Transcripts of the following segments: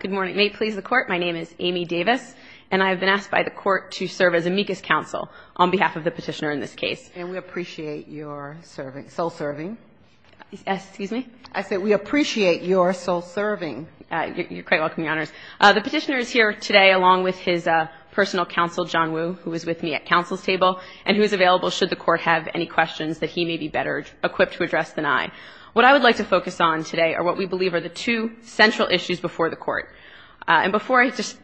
Good morning. May it please the Court, my name is Amy Davis, and I have been asked by the Court to serve as amicus counsel on behalf of the petitioner in this case. And we appreciate your serving, sole serving. Excuse me? I said we appreciate your sole serving. You're quite welcome, Your Honors. The petitioner is here today along with his personal counsel, John Woo, who is with me at counsel's table, and who is available should the Court have any questions that he may be better equipped to address than I. What I would like to focus on today are what we believe are the two central issues before the Court. And before I just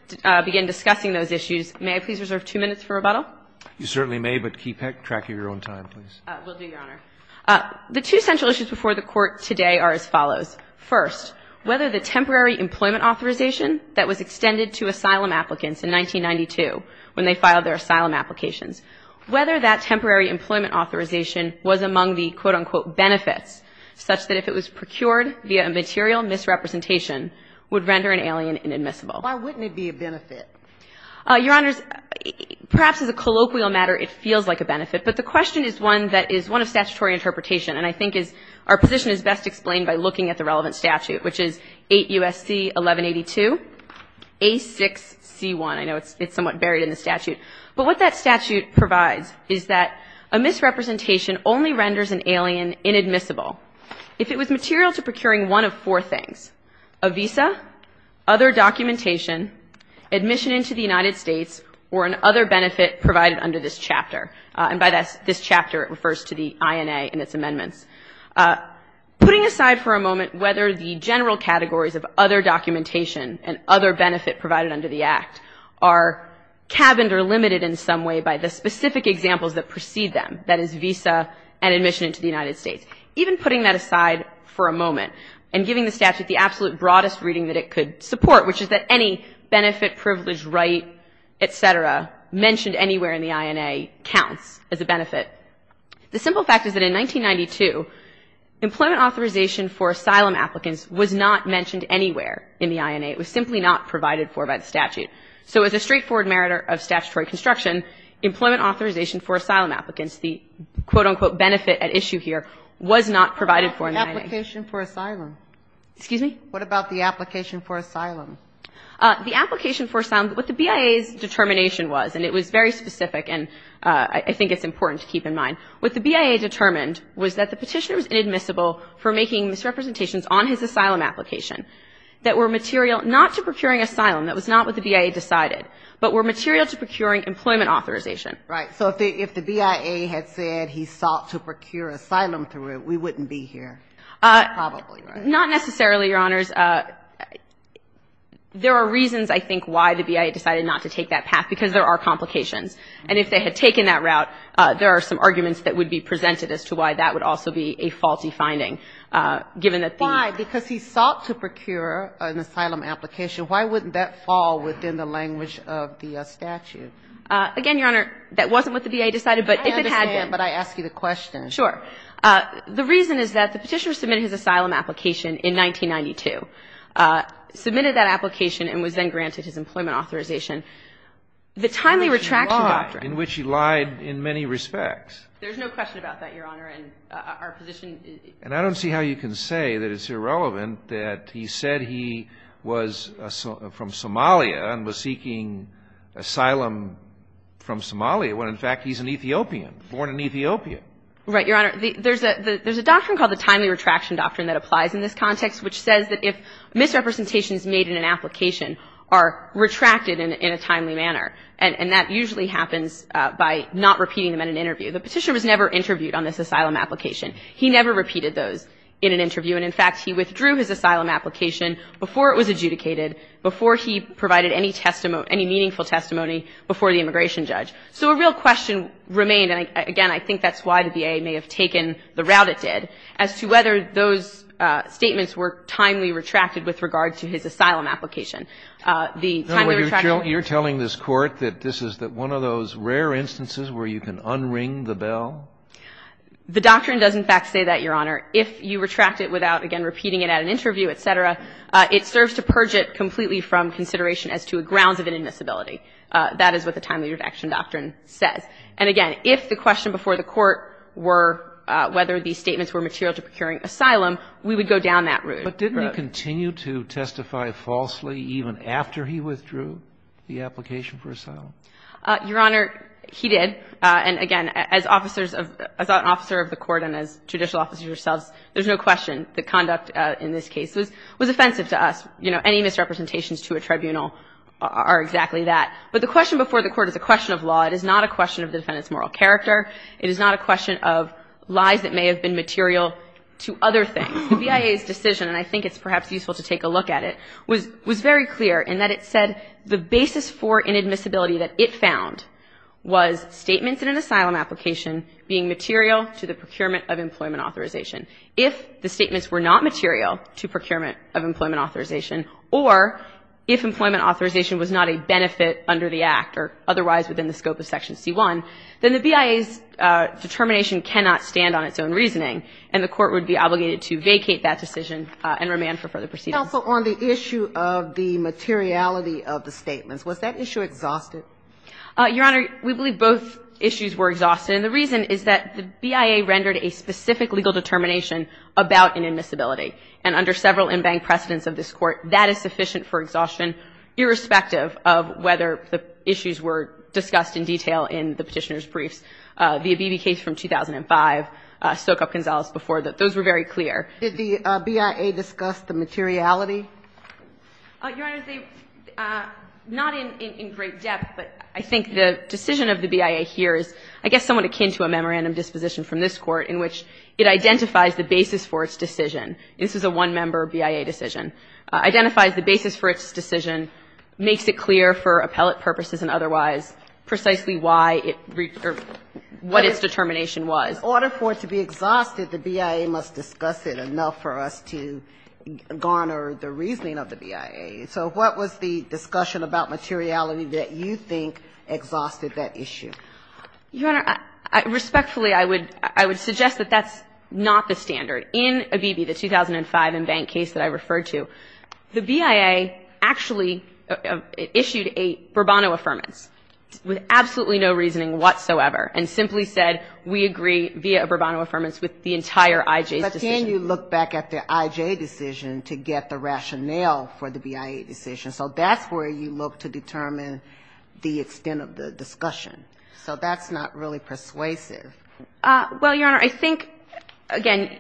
begin discussing those issues, may I please reserve two minutes for rebuttal? You certainly may, but keep track of your own time, please. Will do, Your Honor. The two central issues before the Court today are as follows. First, whether the temporary employment authorization that was extended to asylum applicants in 1992 when they filed their asylum applications, whether that temporary employment authorization was among the quote, unquote, benefits, such that if it was procured via a material misrepresentation would render an alien inadmissible. Why wouldn't it be a benefit? Your Honors, perhaps as a colloquial matter, it feels like a benefit. But the question is one that is one of statutory interpretation. And I think our position is best explained by looking at the relevant statute, which is 8 U.S.C. 1182, A6C1. I know it's somewhat buried in the statute. But what that statute provides is that a misrepresentation only renders an alien inadmissible if it was material to procuring one of four things, a visa, other documentation, admission into the United States, or an other benefit provided under this chapter. And by this chapter, it refers to the INA and its amendments. Putting aside for a moment whether the general categories of other documentation and other benefit provided under the Act are cabined or limited in some way by the specific examples that precede them, that is visa and admission into the United States. Even putting that aside for a moment and giving the statute the absolute broadest reading that it could support, which is that any benefit, privilege, right, et cetera, mentioned anywhere in the INA counts as a benefit. The simple fact is that in 1992, employment authorization for asylum applicants was not mentioned anywhere in the INA. It was simply not provided for by the statute. So as a straightforward merit of statutory construction, employment authorization for asylum applicants, the quote, unquote, benefit at issue here, was not provided for in the INA. What about the application for asylum? Excuse me? What about the application for asylum? The application for asylum, what the BIA's determination was, and it was very specific and I think it's important to keep in mind, what the BIA determined was that the Petitioner was inadmissible for making misrepresentations on his asylum application that were material not to procuring asylum, that was not what the BIA decided, but were material to procuring employment authorization. Right. So if the BIA had said he sought to procure asylum through it, we wouldn't be here, probably, right? Not necessarily, Your Honors. There are reasons, I think, why the BIA decided not to take that path, because there are complications. And if they had taken that route, there are some arguments that would be presented as to why that would also be a faulty finding, given that the ---- Why? Because he sought to procure an asylum application. Why wouldn't that fall within the language of the statute? Again, Your Honor, that wasn't what the BIA decided, but if it had been ---- I understand, but I ask you the question. Sure. The reason is that the Petitioner submitted his asylum application in 1992, submitted that application and was then granted his employment authorization. The timely retraction doctrine ---- In which he lied. In which he lied in many respects. There's no question about that, Your Honor, and our position is ---- And I don't see how you can say that it's irrelevant that he said he was from Somalia and was seeking asylum from Somalia, when, in fact, he's an Ethiopian, born in Ethiopia. Right. Your Honor, there's a doctrine called the timely retraction doctrine that applies in this context, which says that if misrepresentations made in an application are retracted in a timely manner, and that usually happens by not repeating them in an interview. The Petitioner was never interviewed on this asylum application. He never repeated those in an interview. And, in fact, he withdrew his asylum application before it was adjudicated, before he provided any testimony, any meaningful testimony before the immigration judge. So a real question remained, and again, I think that's why the BIA may have taken the route it did, as to whether those statements were timely retracted with regard to his asylum application. The timely retraction ---- The doctrine does, in fact, say that, Your Honor. If you retract it without, again, repeating it at an interview, et cetera, it serves to purge it completely from consideration as to grounds of inadmissibility. That is what the timely retraction doctrine says. And, again, if the question before the Court were whether these statements were material to procuring asylum, we would go down that route. But didn't he continue to testify falsely even after he withdrew the application for asylum? Your Honor, he did. And, again, as officers of the Court and as judicial officers ourselves, there's no question that conduct in this case was offensive to us. You know, any misrepresentations to a tribunal are exactly that. But the question before the Court is a question of law. It is not a question of the defendant's moral character. It is not a question of lies that may have been material to other things. The BIA's decision, and I think it's perhaps useful to take a look at it, was very clear in that it said the basis for inadmissibility that it found was statements in an asylum application being material to the procurement of employment authorization. If the statements were not material to procurement of employment authorization or if employment authorization was not a benefit under the Act or otherwise within the scope of Section C-1, then the BIA's determination cannot stand on its own reasoning, and the Court would be obligated to vacate that decision and remand for further proceedings. But also on the issue of the materiality of the statements, was that issue exhausted? Your Honor, we believe both issues were exhausted. And the reason is that the BIA rendered a specific legal determination about inadmissibility. And under several in-bank precedents of this Court, that is sufficient for exhaustion irrespective of whether the issues were discussed in detail in the Petitioner's briefs. The Abibi case from 2005, Stoke-Up Gonzales before that, those were very clear. Did the BIA discuss the materiality? Your Honor, not in great depth, but I think the decision of the BIA here is I guess somewhat akin to a memorandum disposition from this Court in which it identifies the basis for its decision. This is a one-member BIA decision. It identifies the basis for its decision, makes it clear for appellate purposes and otherwise precisely why it or what its determination was. But in order for it to be exhausted, the BIA must discuss it enough for us to garner the reasoning of the BIA. So what was the discussion about materiality that you think exhausted that issue? Your Honor, respectfully, I would suggest that that's not the standard. In Abibi, the 2005 in-bank case that I referred to, the BIA actually issued a Bourbon Affirmance with absolutely no reasoning whatsoever and simply said, we agree via a Bourbon Affirmance with the entire IJ's decision. But can you look back at the IJ decision to get the rationale for the BIA decision? So that's where you look to determine the extent of the discussion. So that's not really persuasive. Well, Your Honor, I think, again,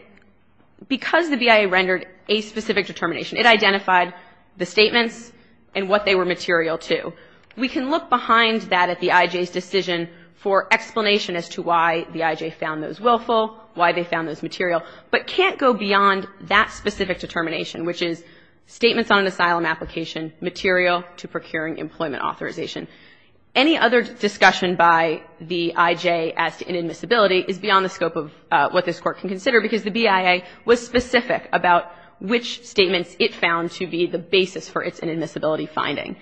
because the BIA rendered a specific determination, it identified the statements and what they were material to. We can look behind that at the IJ's decision for explanation as to why the IJ found those willful, why they found those material, but can't go beyond that specific determination, which is statements on an asylum application material to procuring employment authorization. Any other discussion by the IJ as to inadmissibility is beyond the scope of what this it found to be the basis for its inadmissibility finding.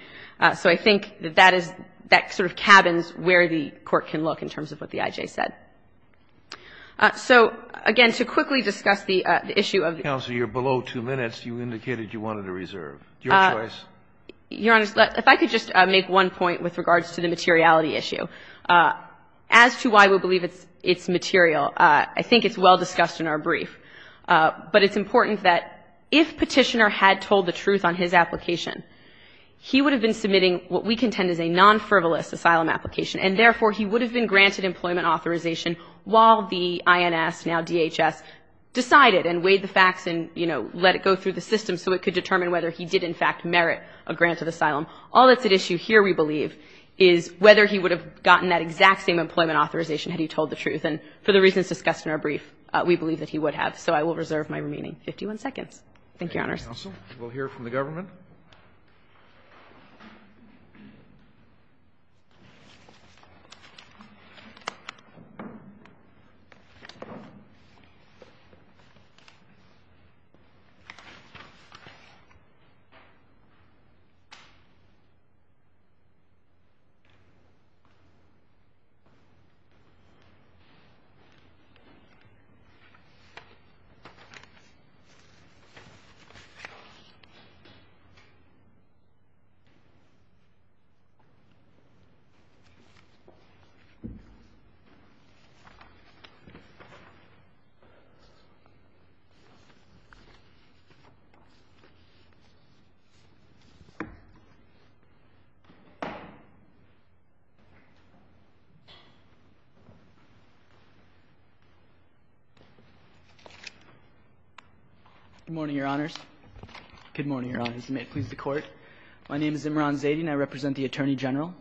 So I think that that is, that sort of cabins where the Court can look in terms of what the IJ said. So, again, to quickly discuss the issue of the case. Kennedy, you're below two minutes. You indicated you wanted to reserve. Your choice. Your Honor, if I could just make one point with regards to the materiality issue. As to why we believe it's material, I think it's well discussed in our brief. But it's important that if Petitioner had told the truth on his application, he would have been submitting what we contend is a non-frivolous asylum application. And, therefore, he would have been granted employment authorization while the INS, now DHS, decided and weighed the facts and, you know, let it go through the system so it could determine whether he did, in fact, merit a grant of asylum. All that's at issue here, we believe, is whether he would have gotten that exact same employment authorization had he told the truth. And for the reasons discussed in our brief, we believe that he would have. So I will reserve my remaining 51 seconds. Counsel, we'll hear from the government. Good morning, Your Honors. Good morning, Your Honors. May it please the Court. My name is Imran Zaydin. I represent the Attorney General.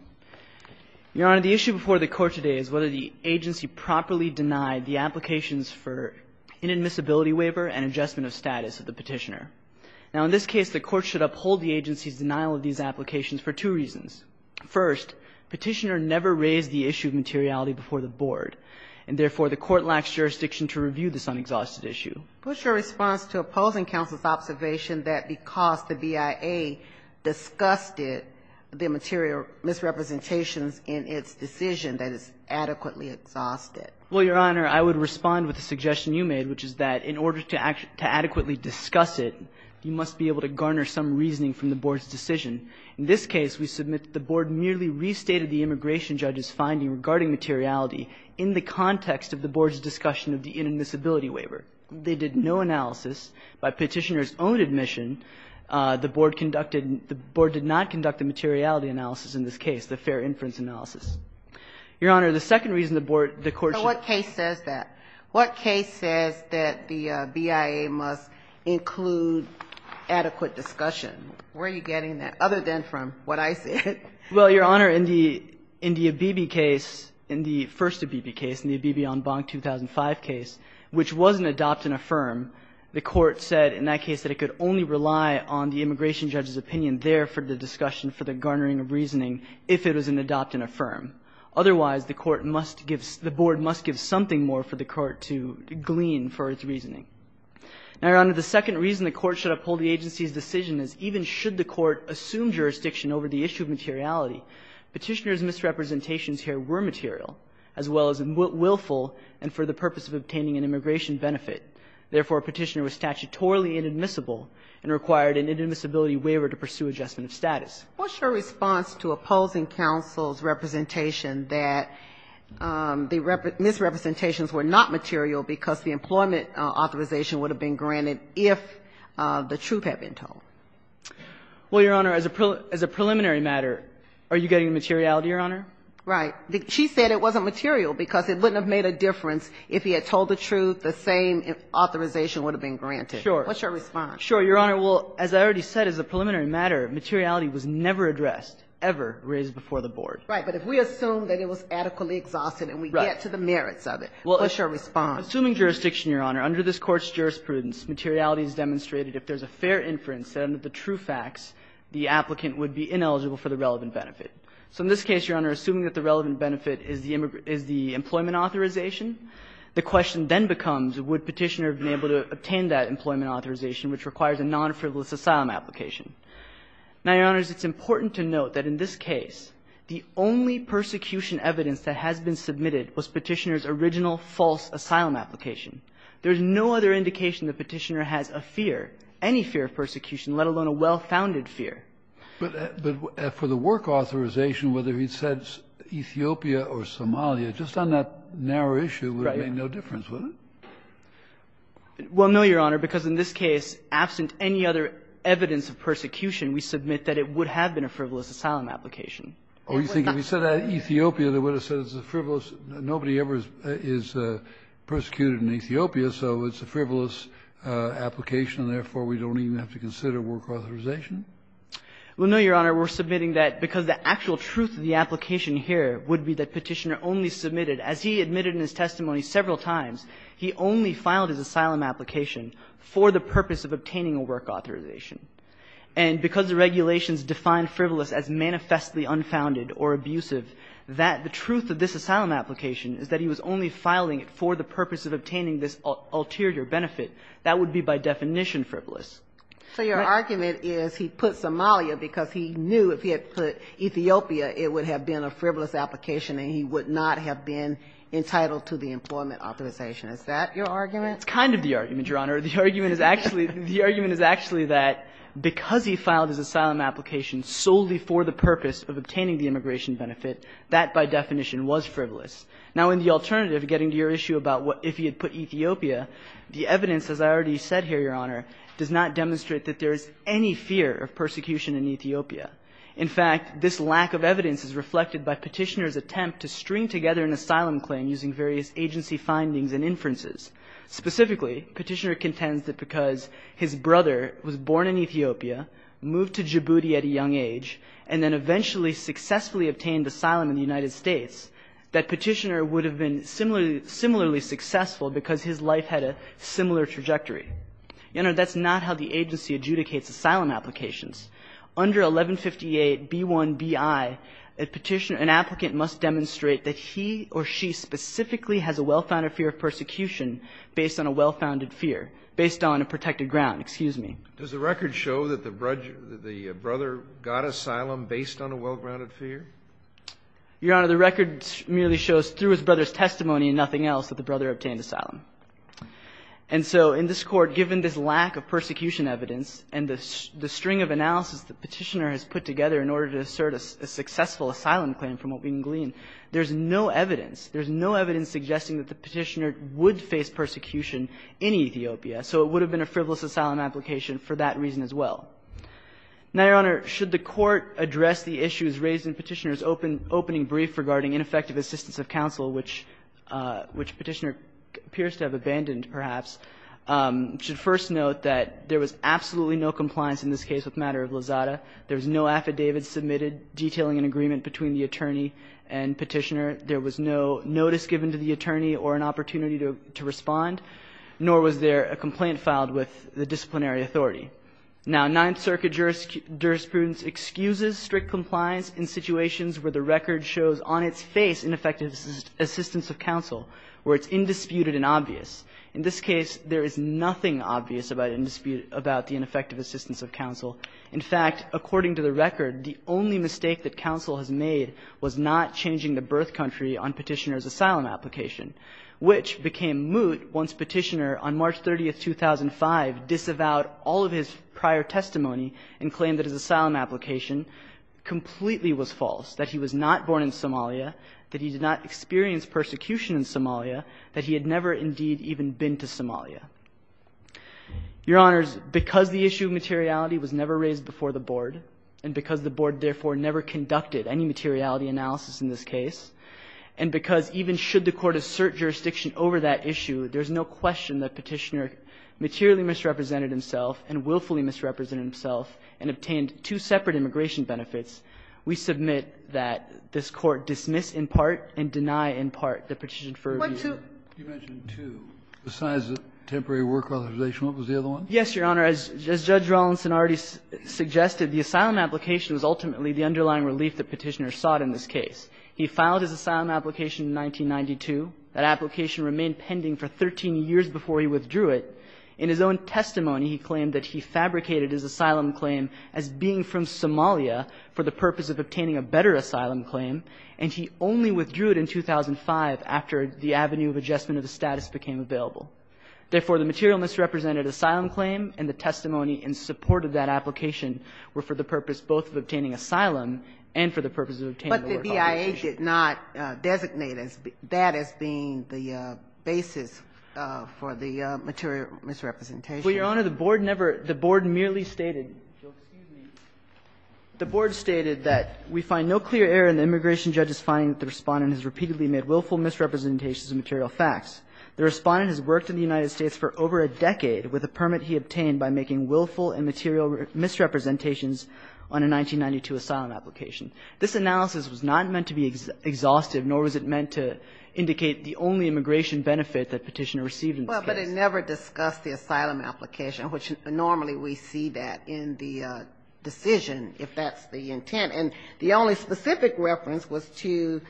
Your Honor, the issue before the Court today is whether the agency properly denied the applications for inadmissibility waiver and adjustment of status of the Petitioner. Now, in this case, the Court should uphold the agency's denial of these applications for two reasons. First, Petitioner never raised the issue of materiality before the Board, and, therefore, the Court lacks jurisdiction to review this unexhausted issue. What's your response to opposing counsel's observation that because the BIA discussed it, the material misrepresentations in its decision that it's adequately exhausted? Well, Your Honor, I would respond with the suggestion you made, which is that in order to adequately discuss it, you must be able to garner some reasoning from the Board's decision. In this case, we submit that the Board merely restated the immigration judge's finding regarding materiality in the context of the Board's discussion of the inadmissibility waiver. They did no analysis. By Petitioner's own admission, the Board conducted the Board did not conduct a materiality analysis in this case, the fair inference analysis. Your Honor, the second reason the Board, the Court should So what case says that? What case says that the BIA must include adequate discussion? Where are you getting that, other than from what I said? Well, Your Honor, in the, in the Abebe case, in the first Abebe case, in the Abebe on Bonk 2005 case, which was an adopt and affirm, the Court said in that case that it could only rely on the immigration judge's opinion there for the discussion for the garnering of reasoning if it was an adopt and affirm. Otherwise, the Court must give the Board must give something more for the Court to glean for its reasoning. Now, Your Honor, the second reason the Court should uphold the agency's decision is even should the Court assume jurisdiction over the issue of materiality, Petitioner's misrepresentations here were material as well as willful and for the purpose of obtaining an immigration benefit. Therefore, Petitioner was statutorily inadmissible and required an inadmissibility waiver to pursue adjustment of status. What's your response to opposing counsel's representation that the misrepresentations were not material because the employment authorization would have been granted if the truth had been told? Well, Your Honor, as a preliminary matter, are you getting materiality, Your Honor? Right. She said it wasn't material because it wouldn't have made a difference if he had told the truth, the same authorization would have been granted. Sure. What's your response? Sure. Your Honor, well, as I already said, as a preliminary matter, materiality was never addressed, ever raised before the Board. Right. But if we assume that it was adequately exhausted and we get to the merits of it, what's your response? Assuming jurisdiction, Your Honor, under this Court's jurisprudence, materiality is demonstrated if there's a fair inference that under the true facts, the applicant would be ineligible for the relevant benefit. So in this case, Your Honor, assuming that the relevant benefit is the employment authorization, the question then becomes would Petitioner have been able to obtain that employment authorization, which requires a nonfrivolous asylum application. Now, Your Honors, it's important to note that in this case, the only persecution evidence that has been submitted was Petitioner's original false asylum application. There's no other indication that Petitioner has a fear, any fear of persecution, let alone a well-founded fear. But for the work authorization, whether he said Ethiopia or Somalia, just on that narrow issue, it would have made no difference, would it? Well, no, Your Honor, because in this case, absent any other evidence of persecution, we submit that it would have been a frivolous asylum application. Oh, you think if he said Ethiopia, they would have said it's a frivolous – nobody ever is persecuted in Ethiopia, so it's a frivolous application, and therefore, we don't even have to consider work authorization? Well, no, Your Honor, we're submitting that because the actual truth of the application here would be that Petitioner only submitted, as he admitted in his testimony several times, he only filed his asylum application for the purpose of obtaining a work authorization. And because the regulations define frivolous as manifestly unfounded or abusive, that the truth of this asylum application is that he was only filing it for the purpose of obtaining this ulterior benefit. That would be by definition frivolous. So your argument is he put Somalia because he knew if he had put Ethiopia, it would have been a frivolous application and he would not have been entitled to the employment authorization. Is that your argument? It's kind of the argument, Your Honor. The argument is actually – the argument is actually that because he filed his asylum application solely for the purpose of obtaining the immigration benefit, that by definition was frivolous. Now, in the alternative, getting to your issue about if he had put Ethiopia, the evidence, as I already said here, Your Honor, does not demonstrate that there is any fear of persecution in Ethiopia. In fact, this lack of evidence is reflected by Petitioner's attempt to string together an asylum claim using various agency findings and inferences. Specifically, Petitioner contends that because his brother was born in Ethiopia, moved to Djibouti at a young age, and then eventually successfully obtained asylum in the United States, that Petitioner would have been similarly successful because his life had a similar trajectory. Your Honor, that's not how the agency adjudicates asylum applications. Under 1158b1bi, a Petitioner – an applicant must demonstrate that he or she specifically has a well-founded fear of persecution based on a well-founded fear, based on a protected ground. Excuse me. Does the record show that the brother got asylum based on a well-grounded fear? Your Honor, the record merely shows through his brother's testimony and nothing else that the brother obtained asylum. And so in this Court, given this lack of persecution evidence and the string of analysis that Petitioner has put together in order to assert a successful asylum claim from what we can glean, there's no evidence. in Ethiopia. So it would have been a frivolous asylum application for that reason as well. Now, Your Honor, should the Court address the issues raised in Petitioner's opening brief regarding ineffective assistance of counsel, which Petitioner appears to have abandoned, perhaps, should first note that there was absolutely no compliance in this case with matter of Lozada. There was no affidavit submitted detailing an agreement between the attorney and Petitioner. There was no notice given to the attorney or an opportunity to respond, nor was there a complaint filed with the disciplinary authority. Now, Ninth Circuit jurisprudence excuses strict compliance in situations where the record shows on its face ineffective assistance of counsel, where it's indisputed and obvious. In this case, there is nothing obvious about the ineffective assistance of counsel. In fact, according to the record, the only mistake that counsel has made was not changing the birth country on Petitioner's asylum application, which became moot once Petitioner, on March 30, 2005, disavowed all of his prior testimony and claimed that his asylum application completely was false, that he was not born in Somalia, that he did not experience persecution in Somalia, that he had never, indeed, even been to Somalia. Your Honors, because the issue of materiality was never raised before the Board, and because the Board, therefore, never conducted any materiality analysis in this case, and because even should the Court assert jurisdiction over that issue, there is no question that Petitioner materially misrepresented himself and willfully misrepresented himself and obtained two separate immigration benefits, we submit that this Court dismiss in part and deny in part the petition for review. Kagan. Kennedy. You mentioned two. Besides the temporary work authorization, what was the other one? Yes, Your Honor. As Judge Rollinson already suggested, the asylum application was ultimately the underlying relief that Petitioner sought in this case. He filed his asylum application in 1992. That application remained pending for 13 years before he withdrew it. In his own testimony, he claimed that he fabricated his asylum claim as being from Somalia for the purpose of obtaining a better asylum claim, and he only withdrew it in 2005 after the avenue of adjustment of the status became available. Therefore, the material misrepresented asylum claim and the testimony in support of that application were for the purpose both of obtaining asylum and for the purpose of obtaining the work authorization. They did not designate that as being the basis for the material misrepresentation. Well, Your Honor, the Board never – the Board merely stated – excuse me – the Board stated that we find no clear error in the immigration judge's finding that the Respondent has repeatedly made willful misrepresentations of material facts. The Respondent has worked in the United States for over a decade with a permit he obtained by making willful and material misrepresentations on a 1992 asylum application. This analysis was not meant to be exhaustive, nor was it meant to indicate the only immigration benefit that Petitioner received in this case. Well, but it never discussed the asylum application, which normally we see that in the decision, if that's the intent. And the only specific reference was to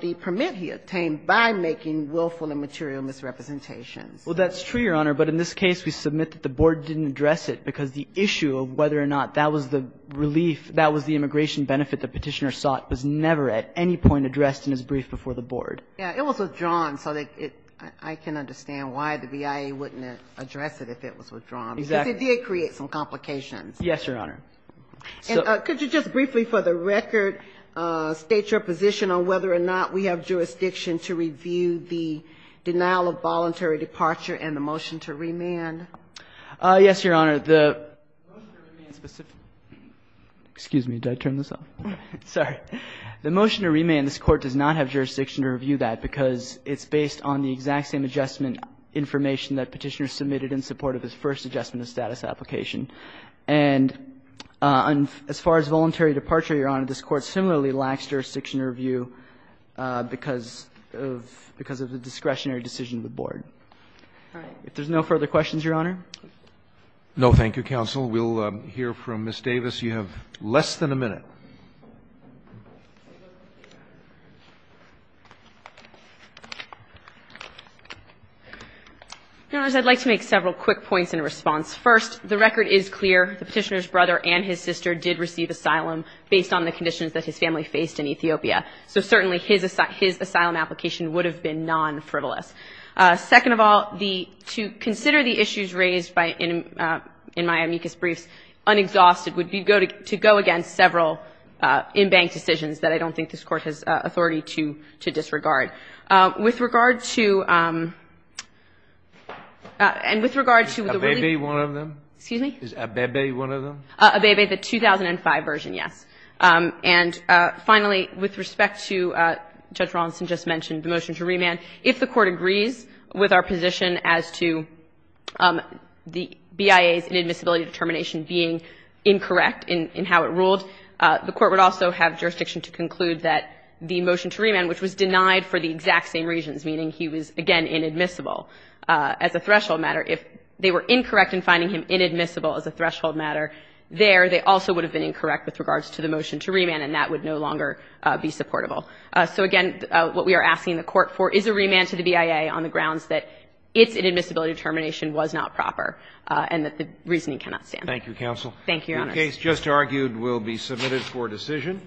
the permit he obtained by making willful and material misrepresentations. Well, that's true, Your Honor, but in this case, we submit that the Board didn't address it because the issue of whether or not that was the relief, that was the immigration benefit that Petitioner sought, was never at any point addressed in his brief before the Board. Yeah, it was withdrawn, so I can understand why the BIA wouldn't address it if it was withdrawn. Exactly. Because it did create some complications. Yes, Your Honor. Could you just briefly, for the record, state your position on whether or not we have jurisdiction to review the denial of voluntary departure and the motion to remand? Yes, Your Honor. The motion to remand specifically – excuse me. Did I turn this off? Sorry. The motion to remand, this Court does not have jurisdiction to review that because it's based on the exact same adjustment information that Petitioner submitted in support of his first adjustment of status application. And as far as voluntary departure, Your Honor, this Court similarly lacks jurisdiction to review because of the discretionary decision of the Board. All right. If there's no further questions, Your Honor. No, thank you, counsel. We'll hear from Ms. Davis. Ms. Davis, you have less than a minute. Your Honors, I'd like to make several quick points in response. First, the record is clear. The Petitioner's brother and his sister did receive asylum based on the conditions that his family faced in Ethiopia. So certainly his asylum application would have been non-frivolous. Second of all, to consider the issues raised in my amicus briefs, unexhausted would be to go against several in-bank decisions that I don't think this Court has authority to disregard. With regard to the really — Is Abebe one of them? Excuse me? Is Abebe one of them? Abebe, the 2005 version, yes. And finally, with respect to Judge Raulston just mentioned the motion to remand, if the Court agrees with our position as to the BIA's inadmissibility determination being incorrect in how it ruled, the Court would also have jurisdiction to conclude that the motion to remand, which was denied for the exact same reasons, meaning he was, again, inadmissible as a threshold matter. If they were incorrect in finding him inadmissible as a threshold matter there, they also would have been incorrect with regards to the motion to remand, and that would no longer be supportable. So again, what we are asking the Court for is a remand to the BIA on the grounds that its inadmissibility determination was not proper and that the reasoning cannot stand. Thank you, counsel. Thank you, Your Honor. The case just argued will be submitted for decision.